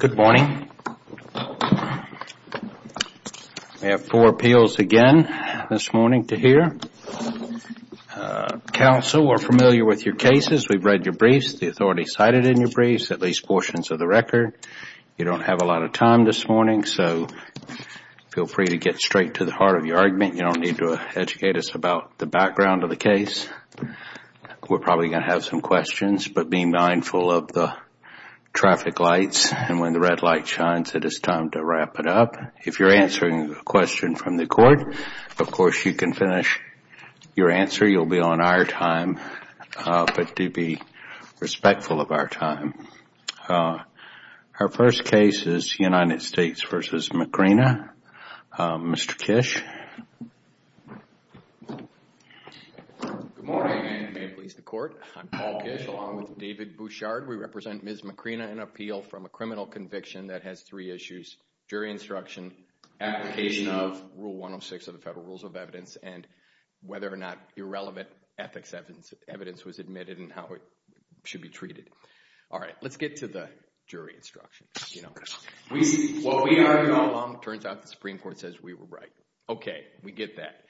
Good morning. We have four appeals again this morning to hear. Counsel, we're familiar with your cases, we've read your briefs, the authority cited in your briefs, at least portions of the record. You don't have a lot of time this morning, so feel free to get straight to the heart of your argument. You don't need to educate us about the background of the case. We're probably going to have some questions, but be mindful of the traffic lights and when the red light shines, it is time to wrap it up. If you're answering a question from the court, of course, you can finish your answer. You'll be on our time, but do be respectful of our time. Our first case is United States v. Macrina. Mr. Kish. Good morning and may it please the Court. I'm Paul Kish along with David Bouchard. We represent Ms. Macrina in an appeal from a criminal conviction that has three issues, jury instruction, application of Rule 106 of the Federal Rules of Evidence, and whether or not irrelevant ethics evidence was admitted and how it should be treated. All right, let's get to the jury instruction. While we argue all along, it turns out the Supreme Court says we were right. Okay, we get that.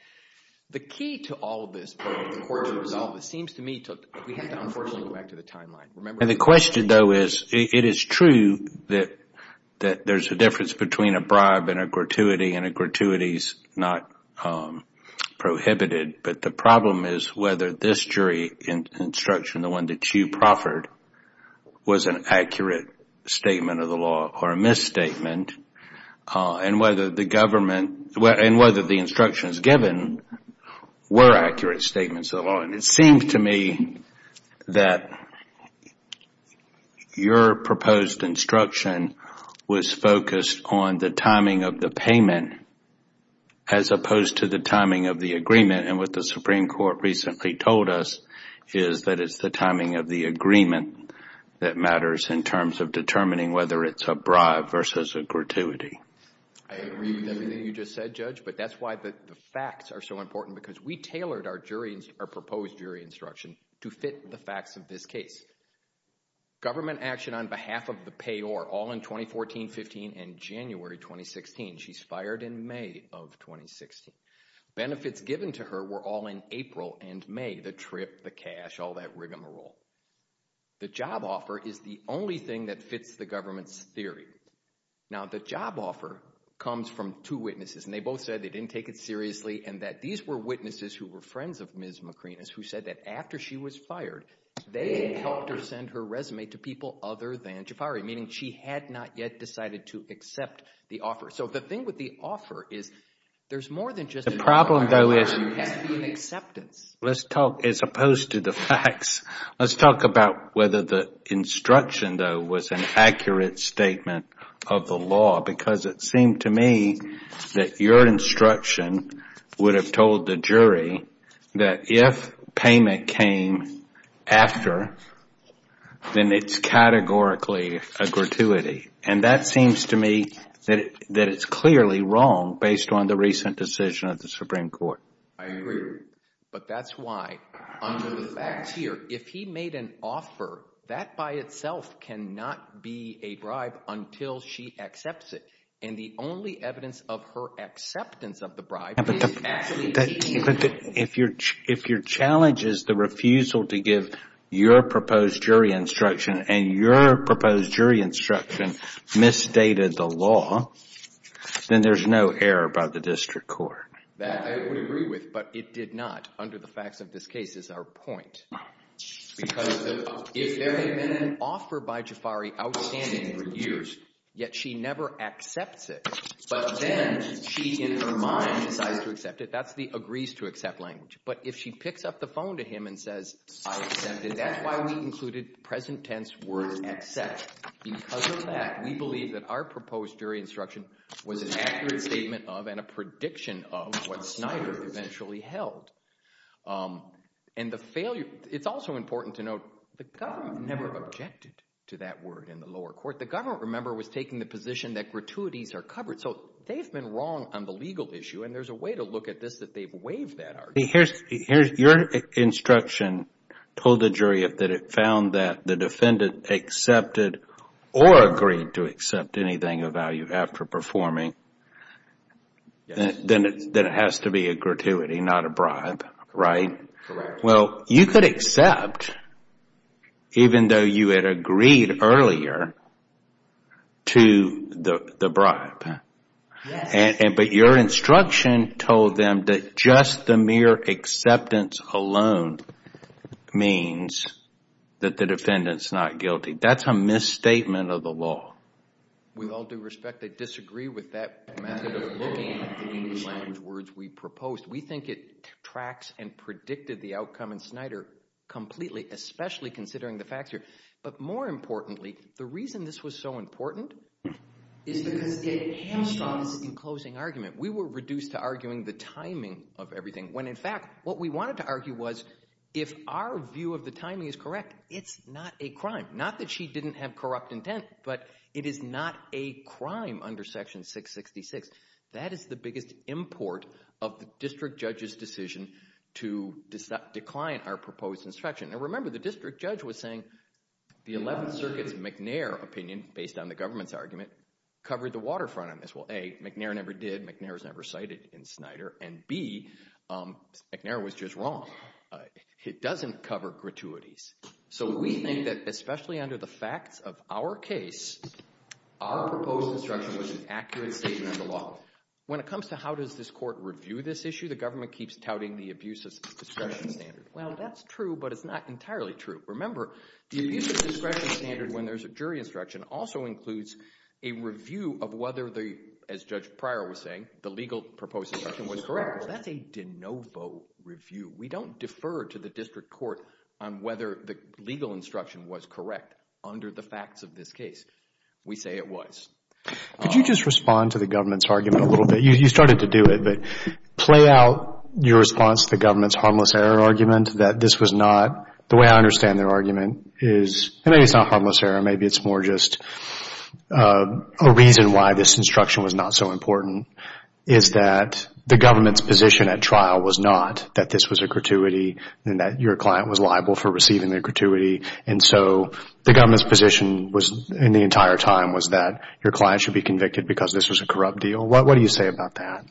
The key to all of this, the court's resolve, it seems to me, we have to, unfortunately, go back to the timeline. The question, though, is it is true that there's a difference between a bribe and a gratuity, and a gratuity is not prohibited, but the problem is whether this jury instruction, the one that you proffered, was an accurate statement of the law or a misstatement, and whether the instructions given were accurate statements of the law. It seems to me that your proposed instruction was focused on the timing of the payment as opposed to the timing of the agreement, and what the Supreme Court recently told us is that it's the timing of the agreement that matters in terms of determining whether it's a bribe versus a gratuity. I agree with everything you just said, Judge, but that's why the facts are so important, because we tailored our jury, our proposed jury instruction to fit the facts of this case. Government action on behalf of the payor all in 2014, 15, and January 2016. She's fired in May of 2016. Benefits given to her were all in April and May, the trip, the cash, all that rigmarole. The job offer is the only thing that fits the government's theory. Now, the job offer comes from two witnesses, and they both said they didn't take it seriously, and that these were witnesses who were friends of Ms. McRenas who said that after she was fired, they helped her send her resume to people other than Jafari, meaning she had not yet decided to accept the offer. So the thing with the offer is there's more than just a job offer, there has to be an acceptance. Let's talk, as opposed to the facts, let's talk about whether the instruction, though, was an accurate statement of the law, because it seemed to me that your instruction would have told the jury that if payment came after, then it's categorically a gratuity. And that seems to me that it's clearly wrong based on the recent decision of the Supreme Court. I agree with you, but that's why under the facts here, if he made an offer, that by itself cannot be a bribe until she accepts it. And the only evidence of her acceptance of the If your challenge is the refusal to give your proposed jury instruction, and your proposed jury instruction misstated the law, then there's no error by the district court. That I would agree with, but it did not under the facts of this case is our point. Because if there had been an offer by Jafari outstanding for years, yet she never accepts it, but then she in her mind decides to accept it, that's the agrees to accept language. But if she picks up the phone to him and says, I accept it, that's why we included present tense word accept. Because of that, we believe that our proposed jury instruction was an accurate statement of and a prediction of what Snyder eventually held. And the failure, it's also important to note, the government never objected to that word in the lower court. The government, remember, was taking the position that gratuities are covered. So they've been wrong on the legal issue, and there's a way to look at this that they've waived that argument. Your instruction told the jury that it found that the defendant accepted or agreed to accept anything of value after performing, then it has to be a gratuity, not a bribe, right? Correct. Well, you could accept, even though you had agreed earlier to the bribe, but your instruction told them that just the mere acceptance alone means that the defendant's not guilty. That's a misstatement of the law. With all due respect, I disagree with that method of looking at the language words we proposed. We think it tracks and predicted the outcome in Snyder completely, especially considering the facts here. But more importantly, the reason this was so important is because it hamstrung us in closing argument. We were reduced to arguing the timing of everything when, in fact, what we wanted to argue was if our view of the timing is correct, it's not a crime. Not that she didn't have corrupt intent, but it is not a crime under Section 666. That is the biggest import of the district judge's decision to decline our proposed instruction. Now remember, the district judge was saying the 11th Circuit's McNair opinion, based on the government's argument, covered the waterfront on this. Well, A, McNair never did. McNair was never cited in Snyder. And B, McNair was just wrong. It doesn't cover gratuities. So we think that, especially under the facts of our case, our proposed instruction was an accurate statement of the law. When it comes to how does this court review this issue, the government keeps touting the abuse of discretion standard. Well, that's true, but it's not entirely true. Remember, the abuse of discretion standard when there's a jury instruction also includes a review of whether the, as Judge Pryor was saying, the legal proposed instruction was correct. That's a de novo review. We don't defer to the district court on whether the legal instruction was correct under the facts of this case. We say it was. Could you just respond to the government's argument a little bit? You started to do it, but play out your response to the government's harmless error argument that this was not, the way I understand their argument is, and maybe it's not harmless error, maybe it's more just a reason why this instruction was not so important, is that the government's position at trial was not that this was a gratuity and that your client was liable for receiving the gratuity, and so the government's position was, in the entire time, was that your client should be convicted because this was a corrupt deal. What do you say about that?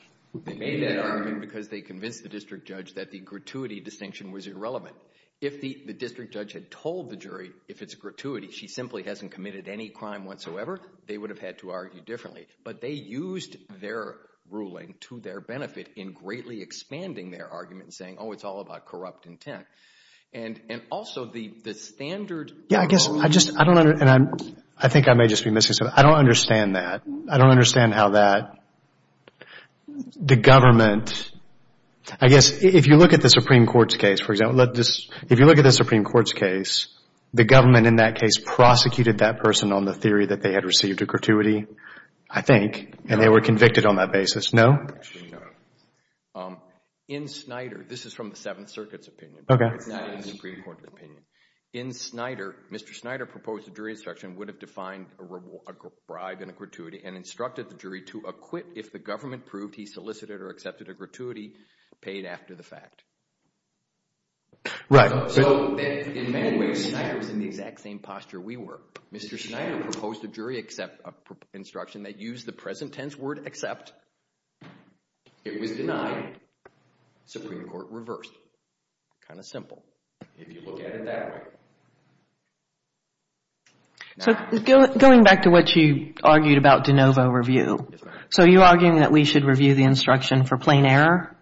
They made that argument because they convinced the district judge that the gratuity distinction was irrelevant. If the district judge had told the jury if it's a gratuity, she simply hasn't committed any crime whatsoever, they would have had to argue differently. But they used their ruling to their benefit in greatly expanding their argument and saying, oh, it's all about corrupt intent. And also, the standard... Yeah, I guess, I just, I don't, and I think I may just be missing something. I don't understand that. I don't understand how that, the government, I guess, if you look at the Supreme Court's case, for example, if you look at the Supreme Court's case, the government in that case prosecuted that person on the theory that they had received a gratuity, I think, and they were convicted on that basis. No? In Snyder, this is from the Seventh Circuit's opinion, not the Supreme Court's opinion. In Snyder, Mr. Snyder proposed a jury instruction would have defined a bribe in a gratuity and instructed the jury to acquit if the government proved he solicited or accepted a gratuity paid after the fact. Right. So, in many ways, Snyder was in the exact same posture we were. Mr. Snyder proposed a jury instruction that used the present tense word accept. It was denied. Supreme Court reversed. Kind of simple, if you look at it that way. So going back to what you argued about de novo review, so you're arguing that we should review the instruction for plain error?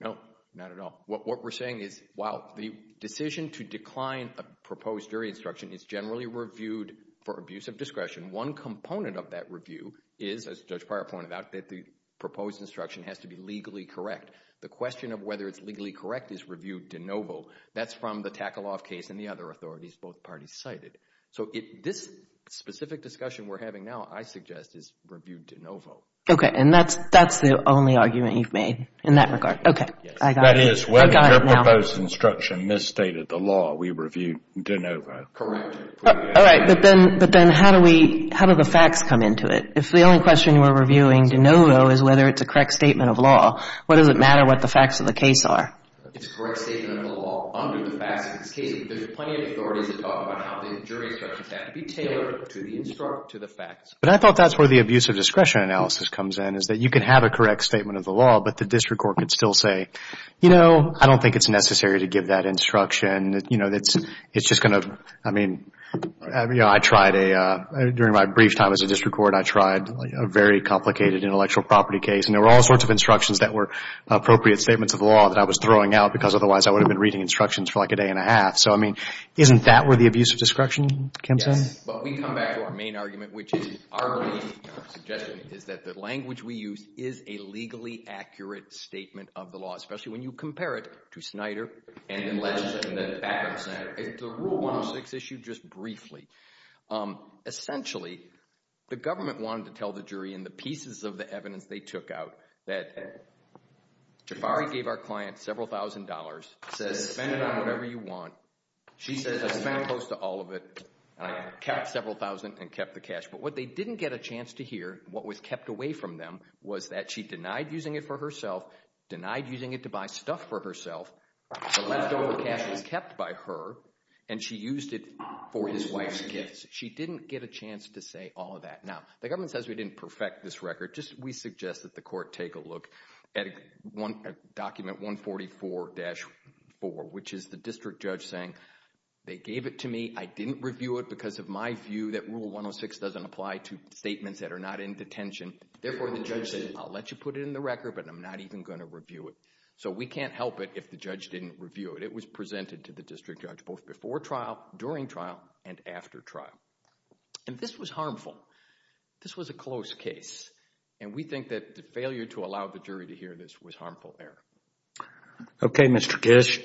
No, not at all. What we're saying is, while the decision to decline a proposed jury instruction is generally reviewed for abuse of discretion, one component of that review is, as Judge Prior pointed out, that the proposed instruction has to be legally correct. The question of whether it's legally correct is reviewed de novo. That's from the Takaloff case and the other authorities both parties cited. So this specific discussion we're having now, I suggest, is reviewed de novo. Okay. And that's the only argument you've made in that regard. Okay. I got it. That is, when your proposed instruction misstated the law, we reviewed de novo. Correct. All right. But then how do the facts come into it? If the only question we're reviewing de novo is whether it's a correct statement of law, what does it matter what the facts of the case are? It's a correct statement of the law. Under the facts of this case, there's plenty of authorities that talk about how the jury instructions have to be tailored to the facts. But I thought that's where the abuse of discretion analysis comes in is that you can have a correct statement of the law, but the district court could still say, you know, I don't think it's necessary to give that instruction. You know, it's just going to, I mean, you know, I tried a, during my brief time as a district court, I tried a very complicated intellectual property case and there were all sorts of instructions that were appropriate statements of the law that I was throwing out because otherwise I would have been reading instructions for like a day and a half. So, I mean, isn't that where the abuse of discretion comes in? Yes, but we come back to our main argument, which is our belief, our suggestion, is that the language we use is a legally accurate statement of the law, especially when you compare it to Snyder and then Legislature and then the background of Snyder. The Rule 106 issue, just briefly, essentially the government wanted to tell the jury in the pieces of the evidence they took out that Jafari gave our client several thousand dollars, says spend it on whatever you want. She says I spent close to all of it and I kept several thousand and kept the cash. But what they didn't get a chance to hear, what was kept away from them, was that she denied using it for herself, denied using it to buy stuff for herself, the leftover cash was kept by her and she used it for his wife's gifts. She didn't get a chance to say all of that. Now, the government says we didn't perfect this record, we suggest that the court take a look at document 144-4, which is the district judge saying they gave it to me, I didn't review it because of my view that Rule 106 doesn't apply to statements that are not in detention. Therefore, the judge says I'll let you put it in the record, but I'm not even going to review it. So we can't help it if the judge didn't review it. It was presented to the district judge both before trial, during trial, and after trial. And this was harmful. This was a close case. And we think that the failure to allow the jury to hear this was harmful error. Okay, Mr. Kish,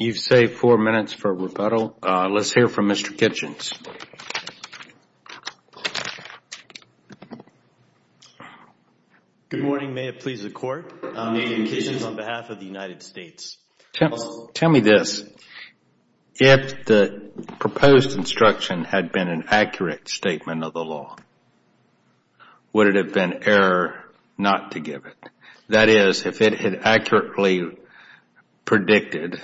you've saved four minutes for rebuttal. Let's hear from Mr. Kitchens. Good morning, may it please the court. I'm Ian Kitchens on behalf of the United States. Tell me this. If the proposed instruction had been an accurate statement of the law, would it have been error not to give it? That is, if it had accurately predicted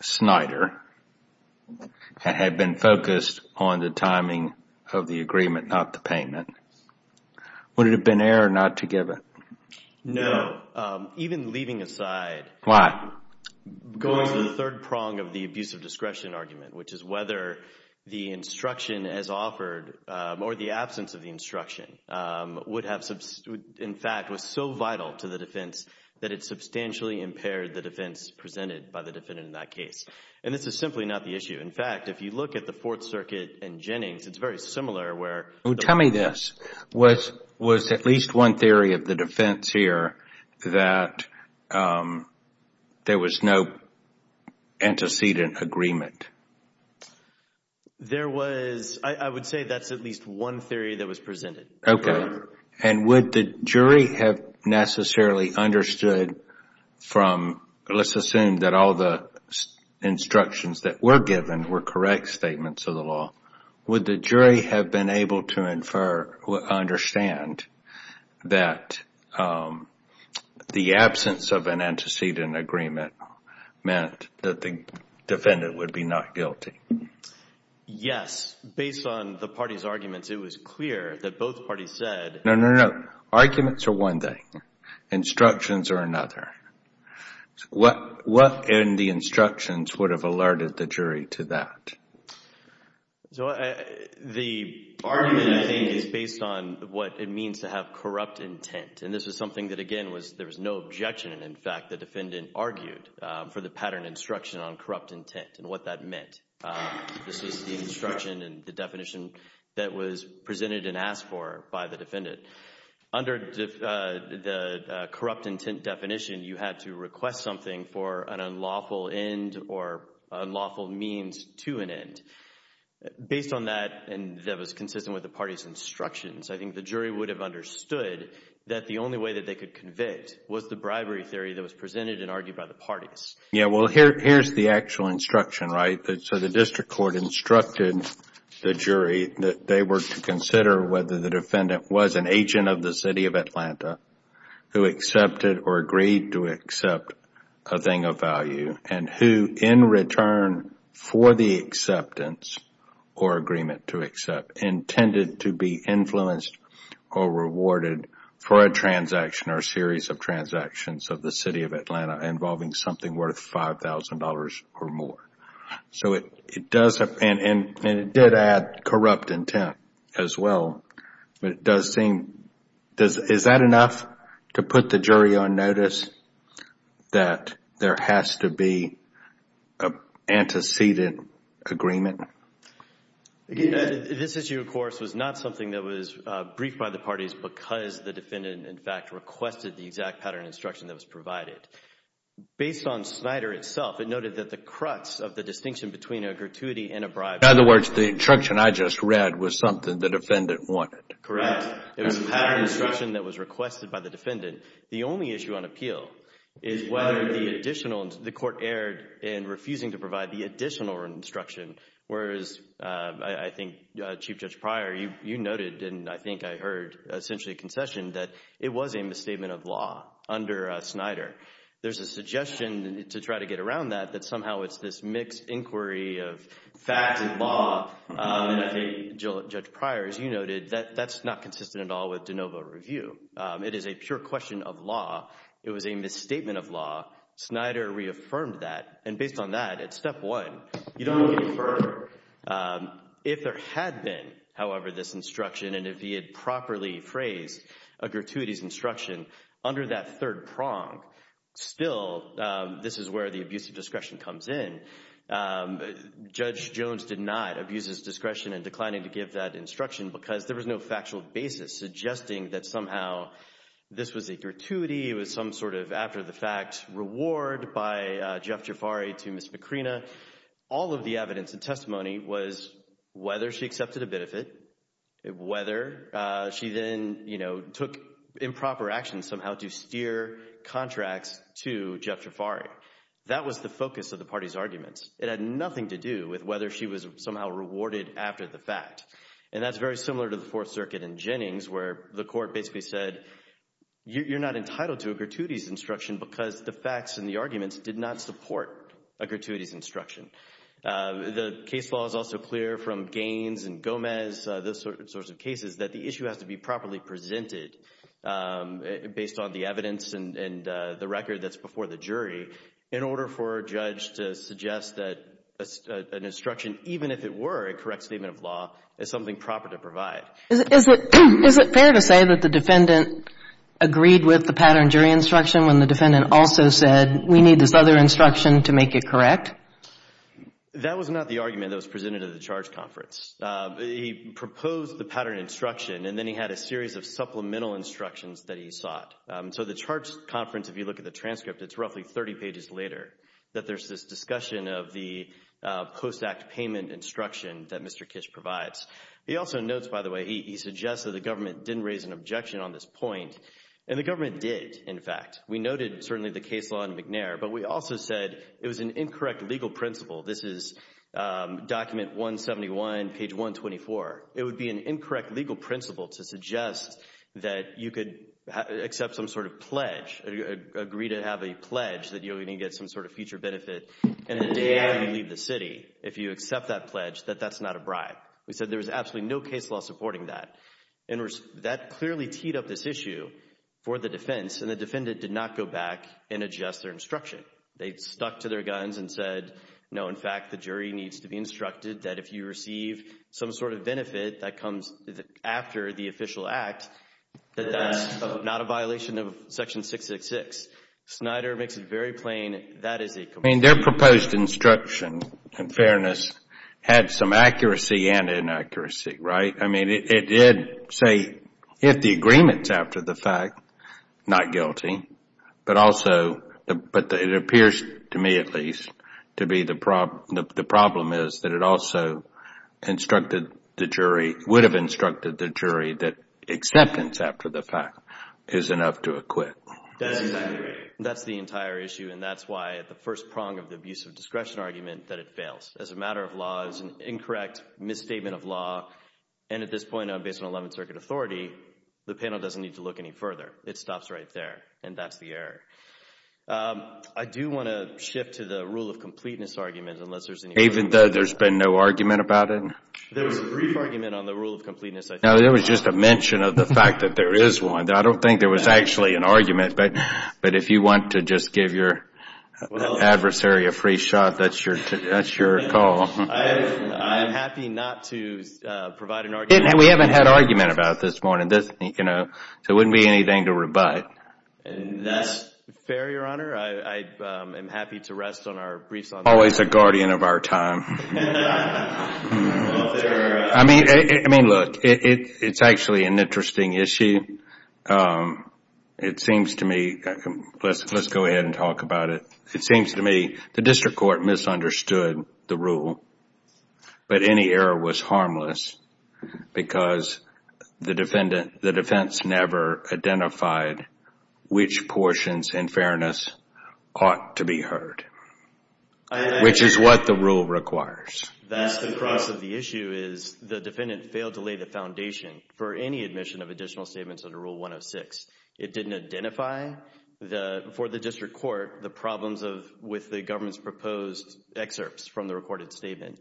Snyder, had been focused on the timing of the agreement, not the payment, would it have been error not to give it? No. Even leaving aside Why? Going to the third prong of the abuse of discretion argument, which is whether the instruction as offered, or the absence of the instruction, would have, in fact, was so vital to the defense that it substantially impaired the defense presented by the defendant in that case. And this is simply not the issue. In fact, if you look at the Fourth Circuit and Jennings, it's very similar where Tell me this. Was at least one theory of the defense here that there was no antecedent agreement? There was, I would say that's at least one theory that was presented. Okay. And would the jury have necessarily understood from, let's assume that all the instructions that were given were correct statements of the law, would the jury have been able to infer, understand that the absence of an antecedent agreement meant that the defendant would be not guilty? Yes. Based on the party's arguments, it was clear that both parties said No, no, no. Arguments are one thing. Instructions are another. What in the instructions would have alerted the jury to that? So, the argument, I think, is based on what it means to have corrupt intent. And this is something that, again, was there was no objection. And, in fact, the defendant argued for the pattern instruction on corrupt intent and what that meant. This was the instruction and the definition that was presented and asked for by the defendant. Under the corrupt intent definition, you had to request something for an unlawful end or unlawful means to an end. Based on that, and that was consistent with the party's instructions, I think the jury would have understood that the only way that they could convict was the bribery theory that was presented and argued by the parties. Yeah. Well, here's the actual instruction, right? So, the district court instructed the jury that they were to consider whether the defendant was an agent of the City of Atlanta who accepted or agreed to accept a thing of value and who, in return for the acceptance or agreement to accept, intended to be influenced or rewarded for a transaction or a series of transactions of the City of Atlanta involving something worth $5,000 or more. And it did add corrupt intent as well. But it does seem, is that enough to put the jury on notice that there has to be an antecedent agreement? This issue, of course, was not something that was briefed by the parties because the defendant, in fact, requested the exact pattern instruction that was provided. Based on Snyder itself, it noted that the crutch of the distinction between a gratuity and a bribery. In other words, the instruction I just read was something the defendant wanted. Correct. It was a pattern instruction that was requested by the defendant. The only issue on appeal is whether the additional, the court erred in refusing to provide the additional instruction whereas, I think, Chief Judge Pryor, you noted and I think I heard essentially concessioned that it was a misstatement of law under Snyder. There's a suggestion to try to get around that, that somehow it's this mixed inquiry of fact and law. And I think, Judge Pryor, as you noted, that that's not consistent at all with de novo review. It is a pure question of law. It was a misstatement of law. Snyder reaffirmed that. And based on that, at step one, you don't really infer if there had been, however, this instruction and if he had properly phrased a gratuities instruction under that third prong. Still, this is where the abuse of discretion comes in. Judge Jones did not abuse his discretion in declining to give that instruction because there was no factual basis suggesting that somehow this was a gratuity. It was some sort of after the fact reward by Jeff Jafari to Ms. Macrina. All of the evidence and testimony was whether she accepted a benefit, whether she then, you know, took improper action somehow to steer contracts to Jeff Jafari. That was the focus of the party's arguments. It had nothing to do with whether she was somehow rewarded after the fact. And that's very similar to the Fourth Circuit in Jennings, where the court basically said, you're not entitled to a gratuities instruction because the facts and the arguments did not support a gratuities instruction. The case law is also clear from Gaines and Gomez, those sorts of cases, that the issue has to be properly presented based on the evidence and the record that's before the jury in order for a judge to suggest that an instruction, even if it were a correct statement of law, is something proper to provide. Is it fair to say that the defendant agreed with the pattern jury instruction when the defendant also said, we need this other instruction to make it correct? That was not the argument that was presented at the charge conference. He proposed the pattern instruction, and then he had a series of supplemental instructions that he sought. So the charge conference, if you look at the transcript, it's roughly 30 pages later that there's this discussion of the post-act payment instruction that Mr. Kish provides. He also notes, by the way, he suggests that the government didn't raise an objection on this point, and the government did, in fact. We noted, certainly, the case law in McNair, but we also said it was an incorrect legal principle. This is document 171, page 124. It would be an incorrect legal principle to suggest that you could accept some sort of pledge, agree to have a pledge that you're going to get some sort of future benefit in the day after you leave the city, if you accept that pledge, that that's not a bribe. We said there was absolutely no case law supporting that. That clearly teed up this issue for the defense, and the did not go back and adjust their instruction. They stuck to their guns and said, no, in fact, the jury needs to be instructed that if you receive some sort of benefit that comes after the official act, that that's not a violation of section 666. Snyder makes it very plain, that is a complaint. Their proposed instruction, in fairness, had some accuracy and inaccuracy, right? I mean, it did say, if the agreement's after the fact, not guilty, but it appears to me, at least, to be the problem is that it also instructed the jury, would have instructed the jury that acceptance after the fact is enough to acquit. That's the entire issue, and that's why at the first prong of the abuse of discretion argument that it fails. As a matter of law, it's an incorrect misstatement of law, and at this point, based on 11th Circuit authority, the panel doesn't need to look any further. It stops right there, and that's the error. I do want to shift to the rule of completeness argument, unless there's any... Even though there's been no argument about it? There was a brief argument on the rule of completeness, I think. No, there was just a mention of the fact that there is one. I don't think there was actually an argument, but if you want to just give your adversary a free shot, that's your call. I'm happy not to provide an argument. We haven't had argument about it this morning, so it wouldn't be anything to rebut. That's fair, Your Honor. I am happy to rest on our briefs on that. Always a guardian of our time. I mean, look, it's actually an interesting issue. It seems to me, let's go ahead and move on. Any error was harmless, because the defense never identified which portions in fairness ought to be heard, which is what the rule requires. That's the crux of the issue, is the defendant failed to lay the foundation for any admission of additional statements under Rule 106. It didn't identify for the district court the problems with the government's proposed excerpts from the recorded statement.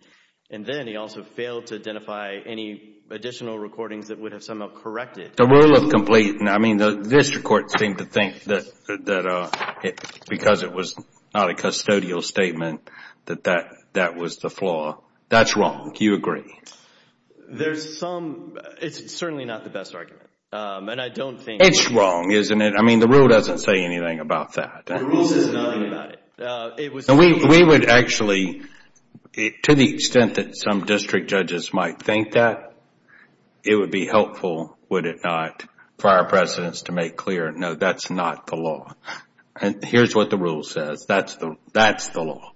And then he also failed to identify any additional recordings that would have somehow corrected. The rule of completeness, I mean, the district court seemed to think that because it was not a custodial statement, that that was the flaw. That's wrong. Do you agree? There's some, it's certainly not the best argument. It's wrong, isn't it? I mean, the rule doesn't say anything about that. The rule says nothing about it. We would actually, to the extent that some district judges might think that, it would be helpful, would it not, for our precedents to make clear, no, that's not the law. Here's what the rule says, that's the law.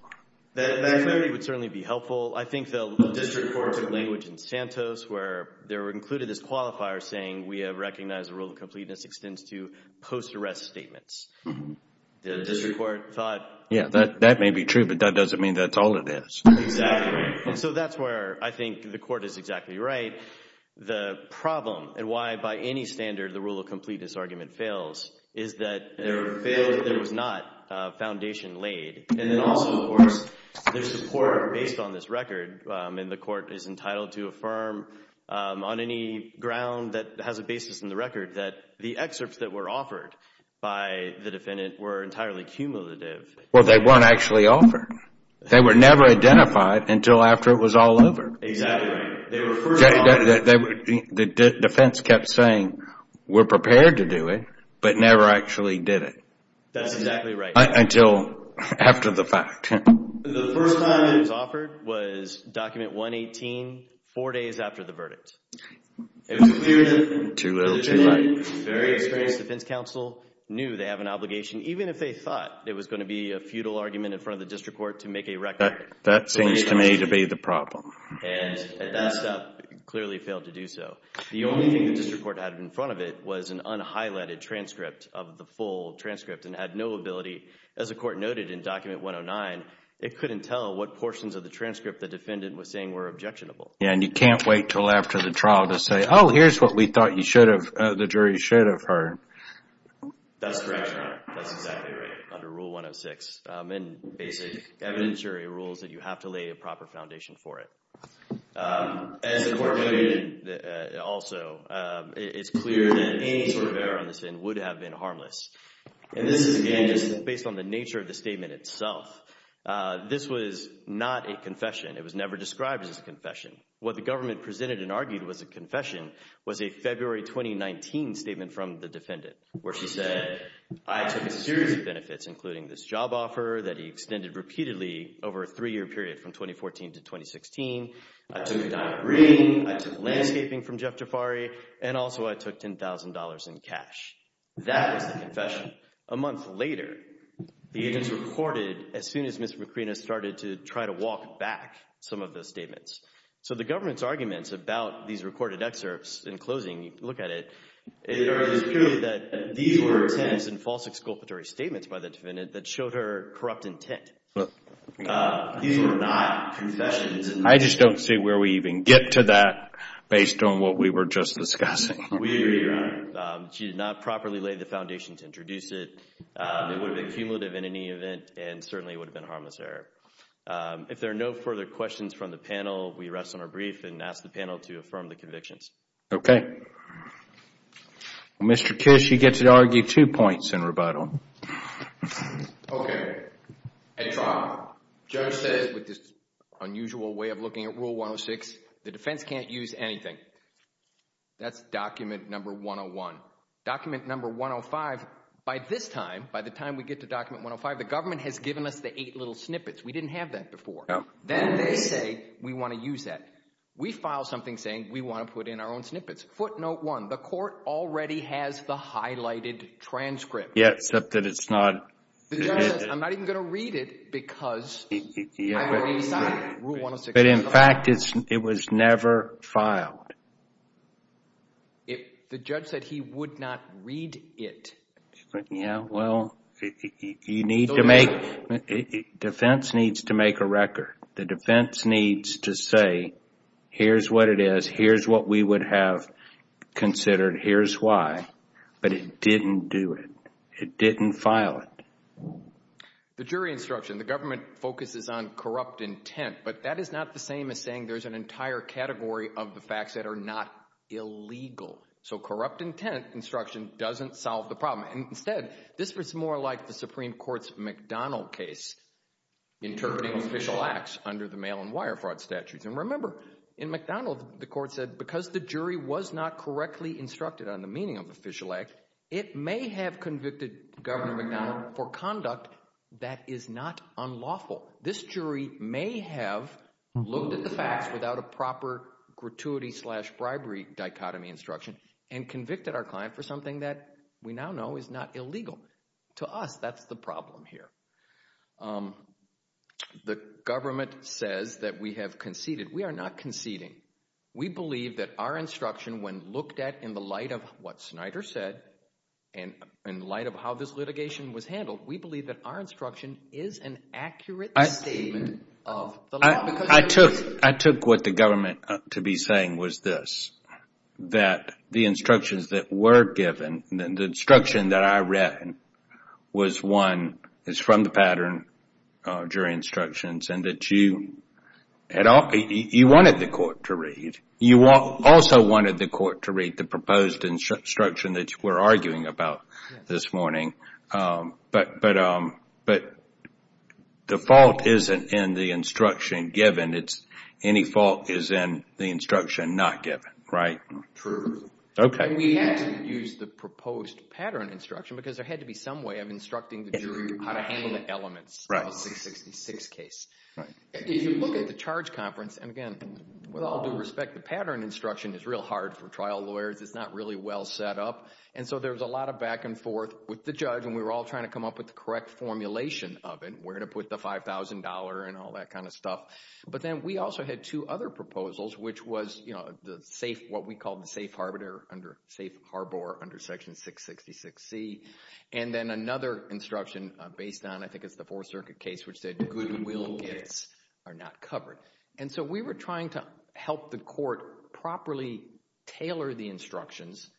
That would certainly be helpful. I think the district court's language in Santos, where there were included this qualifier saying, we have recognized the rule of completeness extends to post-arrest statements. The district court thought, yeah, that may be true, but that doesn't mean that's all it is. Exactly. And so that's where I think the court is exactly right. The problem, and why by any standard the rule of completeness argument fails, is that there was not a foundation laid. And then also, of course, there's support based on this record, and the court is entitled to affirm on any ground that has a basis in the record that the excerpts that were offered by the defendant were entirely cumulative. Well, they weren't actually offered. They were never identified until after it was all over. Exactly. They were first offered. The defense kept saying, we're prepared to do it, but never actually did it. That's exactly right. Until after the fact. The first time it was offered was document 118, four days after the verdict. It was clear that the defendant, very experienced defense counsel, knew they have an obligation, even if they thought it was going to be a futile argument in front of the district court to make a record. That seems to me to be the problem. And at that step, clearly failed to do so. The only thing the district court had in front of it was an unhighlighted transcript of the full transcript, and had no ability, as the court noted in document 109, it couldn't tell what portions of the transcript the defendant was saying were objectionable. Yeah, and you can't wait until after the trial to say, oh, here's what we thought the jury should have heard. That's correct, Your Honor. That's exactly right, under rule 106, and basic evidentiary rules that you have to lay a proper foundation for it. As the court noted also, it's clear that any sort of error on this end would have been harmless. And this is, again, just based on the nature of the statement itself. This was not a confession. It was never described as a confession. What the government presented and argued was a confession was a February 2019 statement from the defendant, where she said, I took a series of benefits, including this job offer that he extended repeatedly over a three-year period from 2014 to 2016, I took a dime of green, I took landscaping from Jeff Jafari, and also I took $10,000 in cash. That was the confession. A month later, the evidence recorded as soon as Ms. Macrina started to try to walk back some of those statements. So the government's arguments about these recorded excerpts, in closing, you can look at it, it appears that these were attempts and false exculpatory statements by the defendant that showed her corrupt intent. These were not confessions. I just don't see where we even get to that based on what we were just discussing. We agree, Your Honor. She did not properly lay the foundation to introduce it. It would have been cumulative in any event and certainly would have been a harmless error. If there are no further questions from the panel, we rest on our brief and ask the panel to affirm the convictions. Okay. Mr. Kish, you get to argue two points in rebuttal. Okay. I try. Judge says, with this unusual way of looking at Rule 106, the defense can't use anything. That's document number 101. Document number 105, by this time, by the time we get to document 105, the government has given us the eight little snippets. We didn't have that before. No. Then they say, we want to use that. We file something saying, we want to put in our own snippets. Footnote one, the court already has the highlighted transcript. Yeah, except that it's not. The judge says, I'm not even going to read it because I already signed Rule 106. In fact, it was never filed. The judge said he would not read it. Yeah, well, defense needs to make a record. The defense needs to say, here's what it is. Here's what we would have considered. Here's why. But it didn't do it. It didn't file it. The jury instruction. The government focuses on corrupt intent, but that is not the same as saying there's an entire category of the facts that are not illegal. So corrupt intent instruction doesn't solve the problem. Instead, this was more like the Supreme Court's McDonnell case, interpreting official acts under the mail and wire fraud statutes. And remember, in McDonnell, the court said, because the jury was not correctly instructed on the meaning of official act, it may have convicted Governor McDonnell for conduct that is not unlawful. This jury may have looked at the facts without a proper gratuity slash bribery dichotomy instruction and convicted our client for something that we now know is not illegal. To us, that's the problem here. The government says that we have conceded. We are not conceding. We believe that our instruction, when looked at in the light of what Snyder said, in light of how this litigation was handled, we believe that our instruction is an accurate statement of the law. I took what the government to be saying was this, that the instructions that were given, the instruction that I read, was one, is from the pattern, jury instructions, and that you wanted the court to read. You also wanted the court to read the proposed instruction that you were arguing about this morning, but the fault isn't in the instruction given, it's any fault is in the instruction not given. True. Okay. We had to use the proposed pattern instruction because there had to be some way of instructing the jury how to handle the elements of a 666 case. Right. If you look at the charge conference, and again, with all due respect, the pattern instruction is real hard for trial lawyers, it's not really well set up, and so there was a lot of back and forth with the judge, and we were all trying to come up with the correct formulation of it, where to put the $5,000 and all that kind of stuff. But then we also had two other proposals, which was the safe, what we called the safe harbor under Section 666C, and then another instruction based on, I think it's the Fourth Amendment, are not covered. And so we were trying to help the court properly tailor the instructions,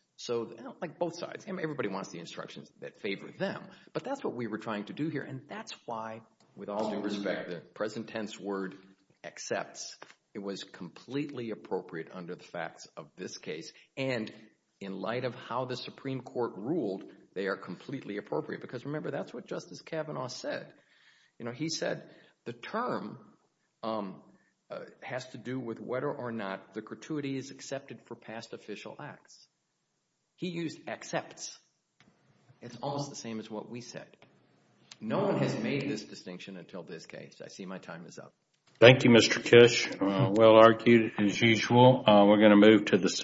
like both sides, everybody wants the instructions that favor them, but that's what we were trying to do here, and that's why, with all due respect, the present tense word accepts, it was completely appropriate under the facts of this case, and in light of how the Supreme Court ruled, they are completely appropriate, because remember, that's what Justice Kavanaugh said. He said the term has to do with whether or not the gratuity is accepted for past official acts. He used accepts. It's almost the same as what we said. No one has made this distinction until this case. I see my time is up. Thank you, Mr. Kish. Well argued, as usual. We're going to move to the second.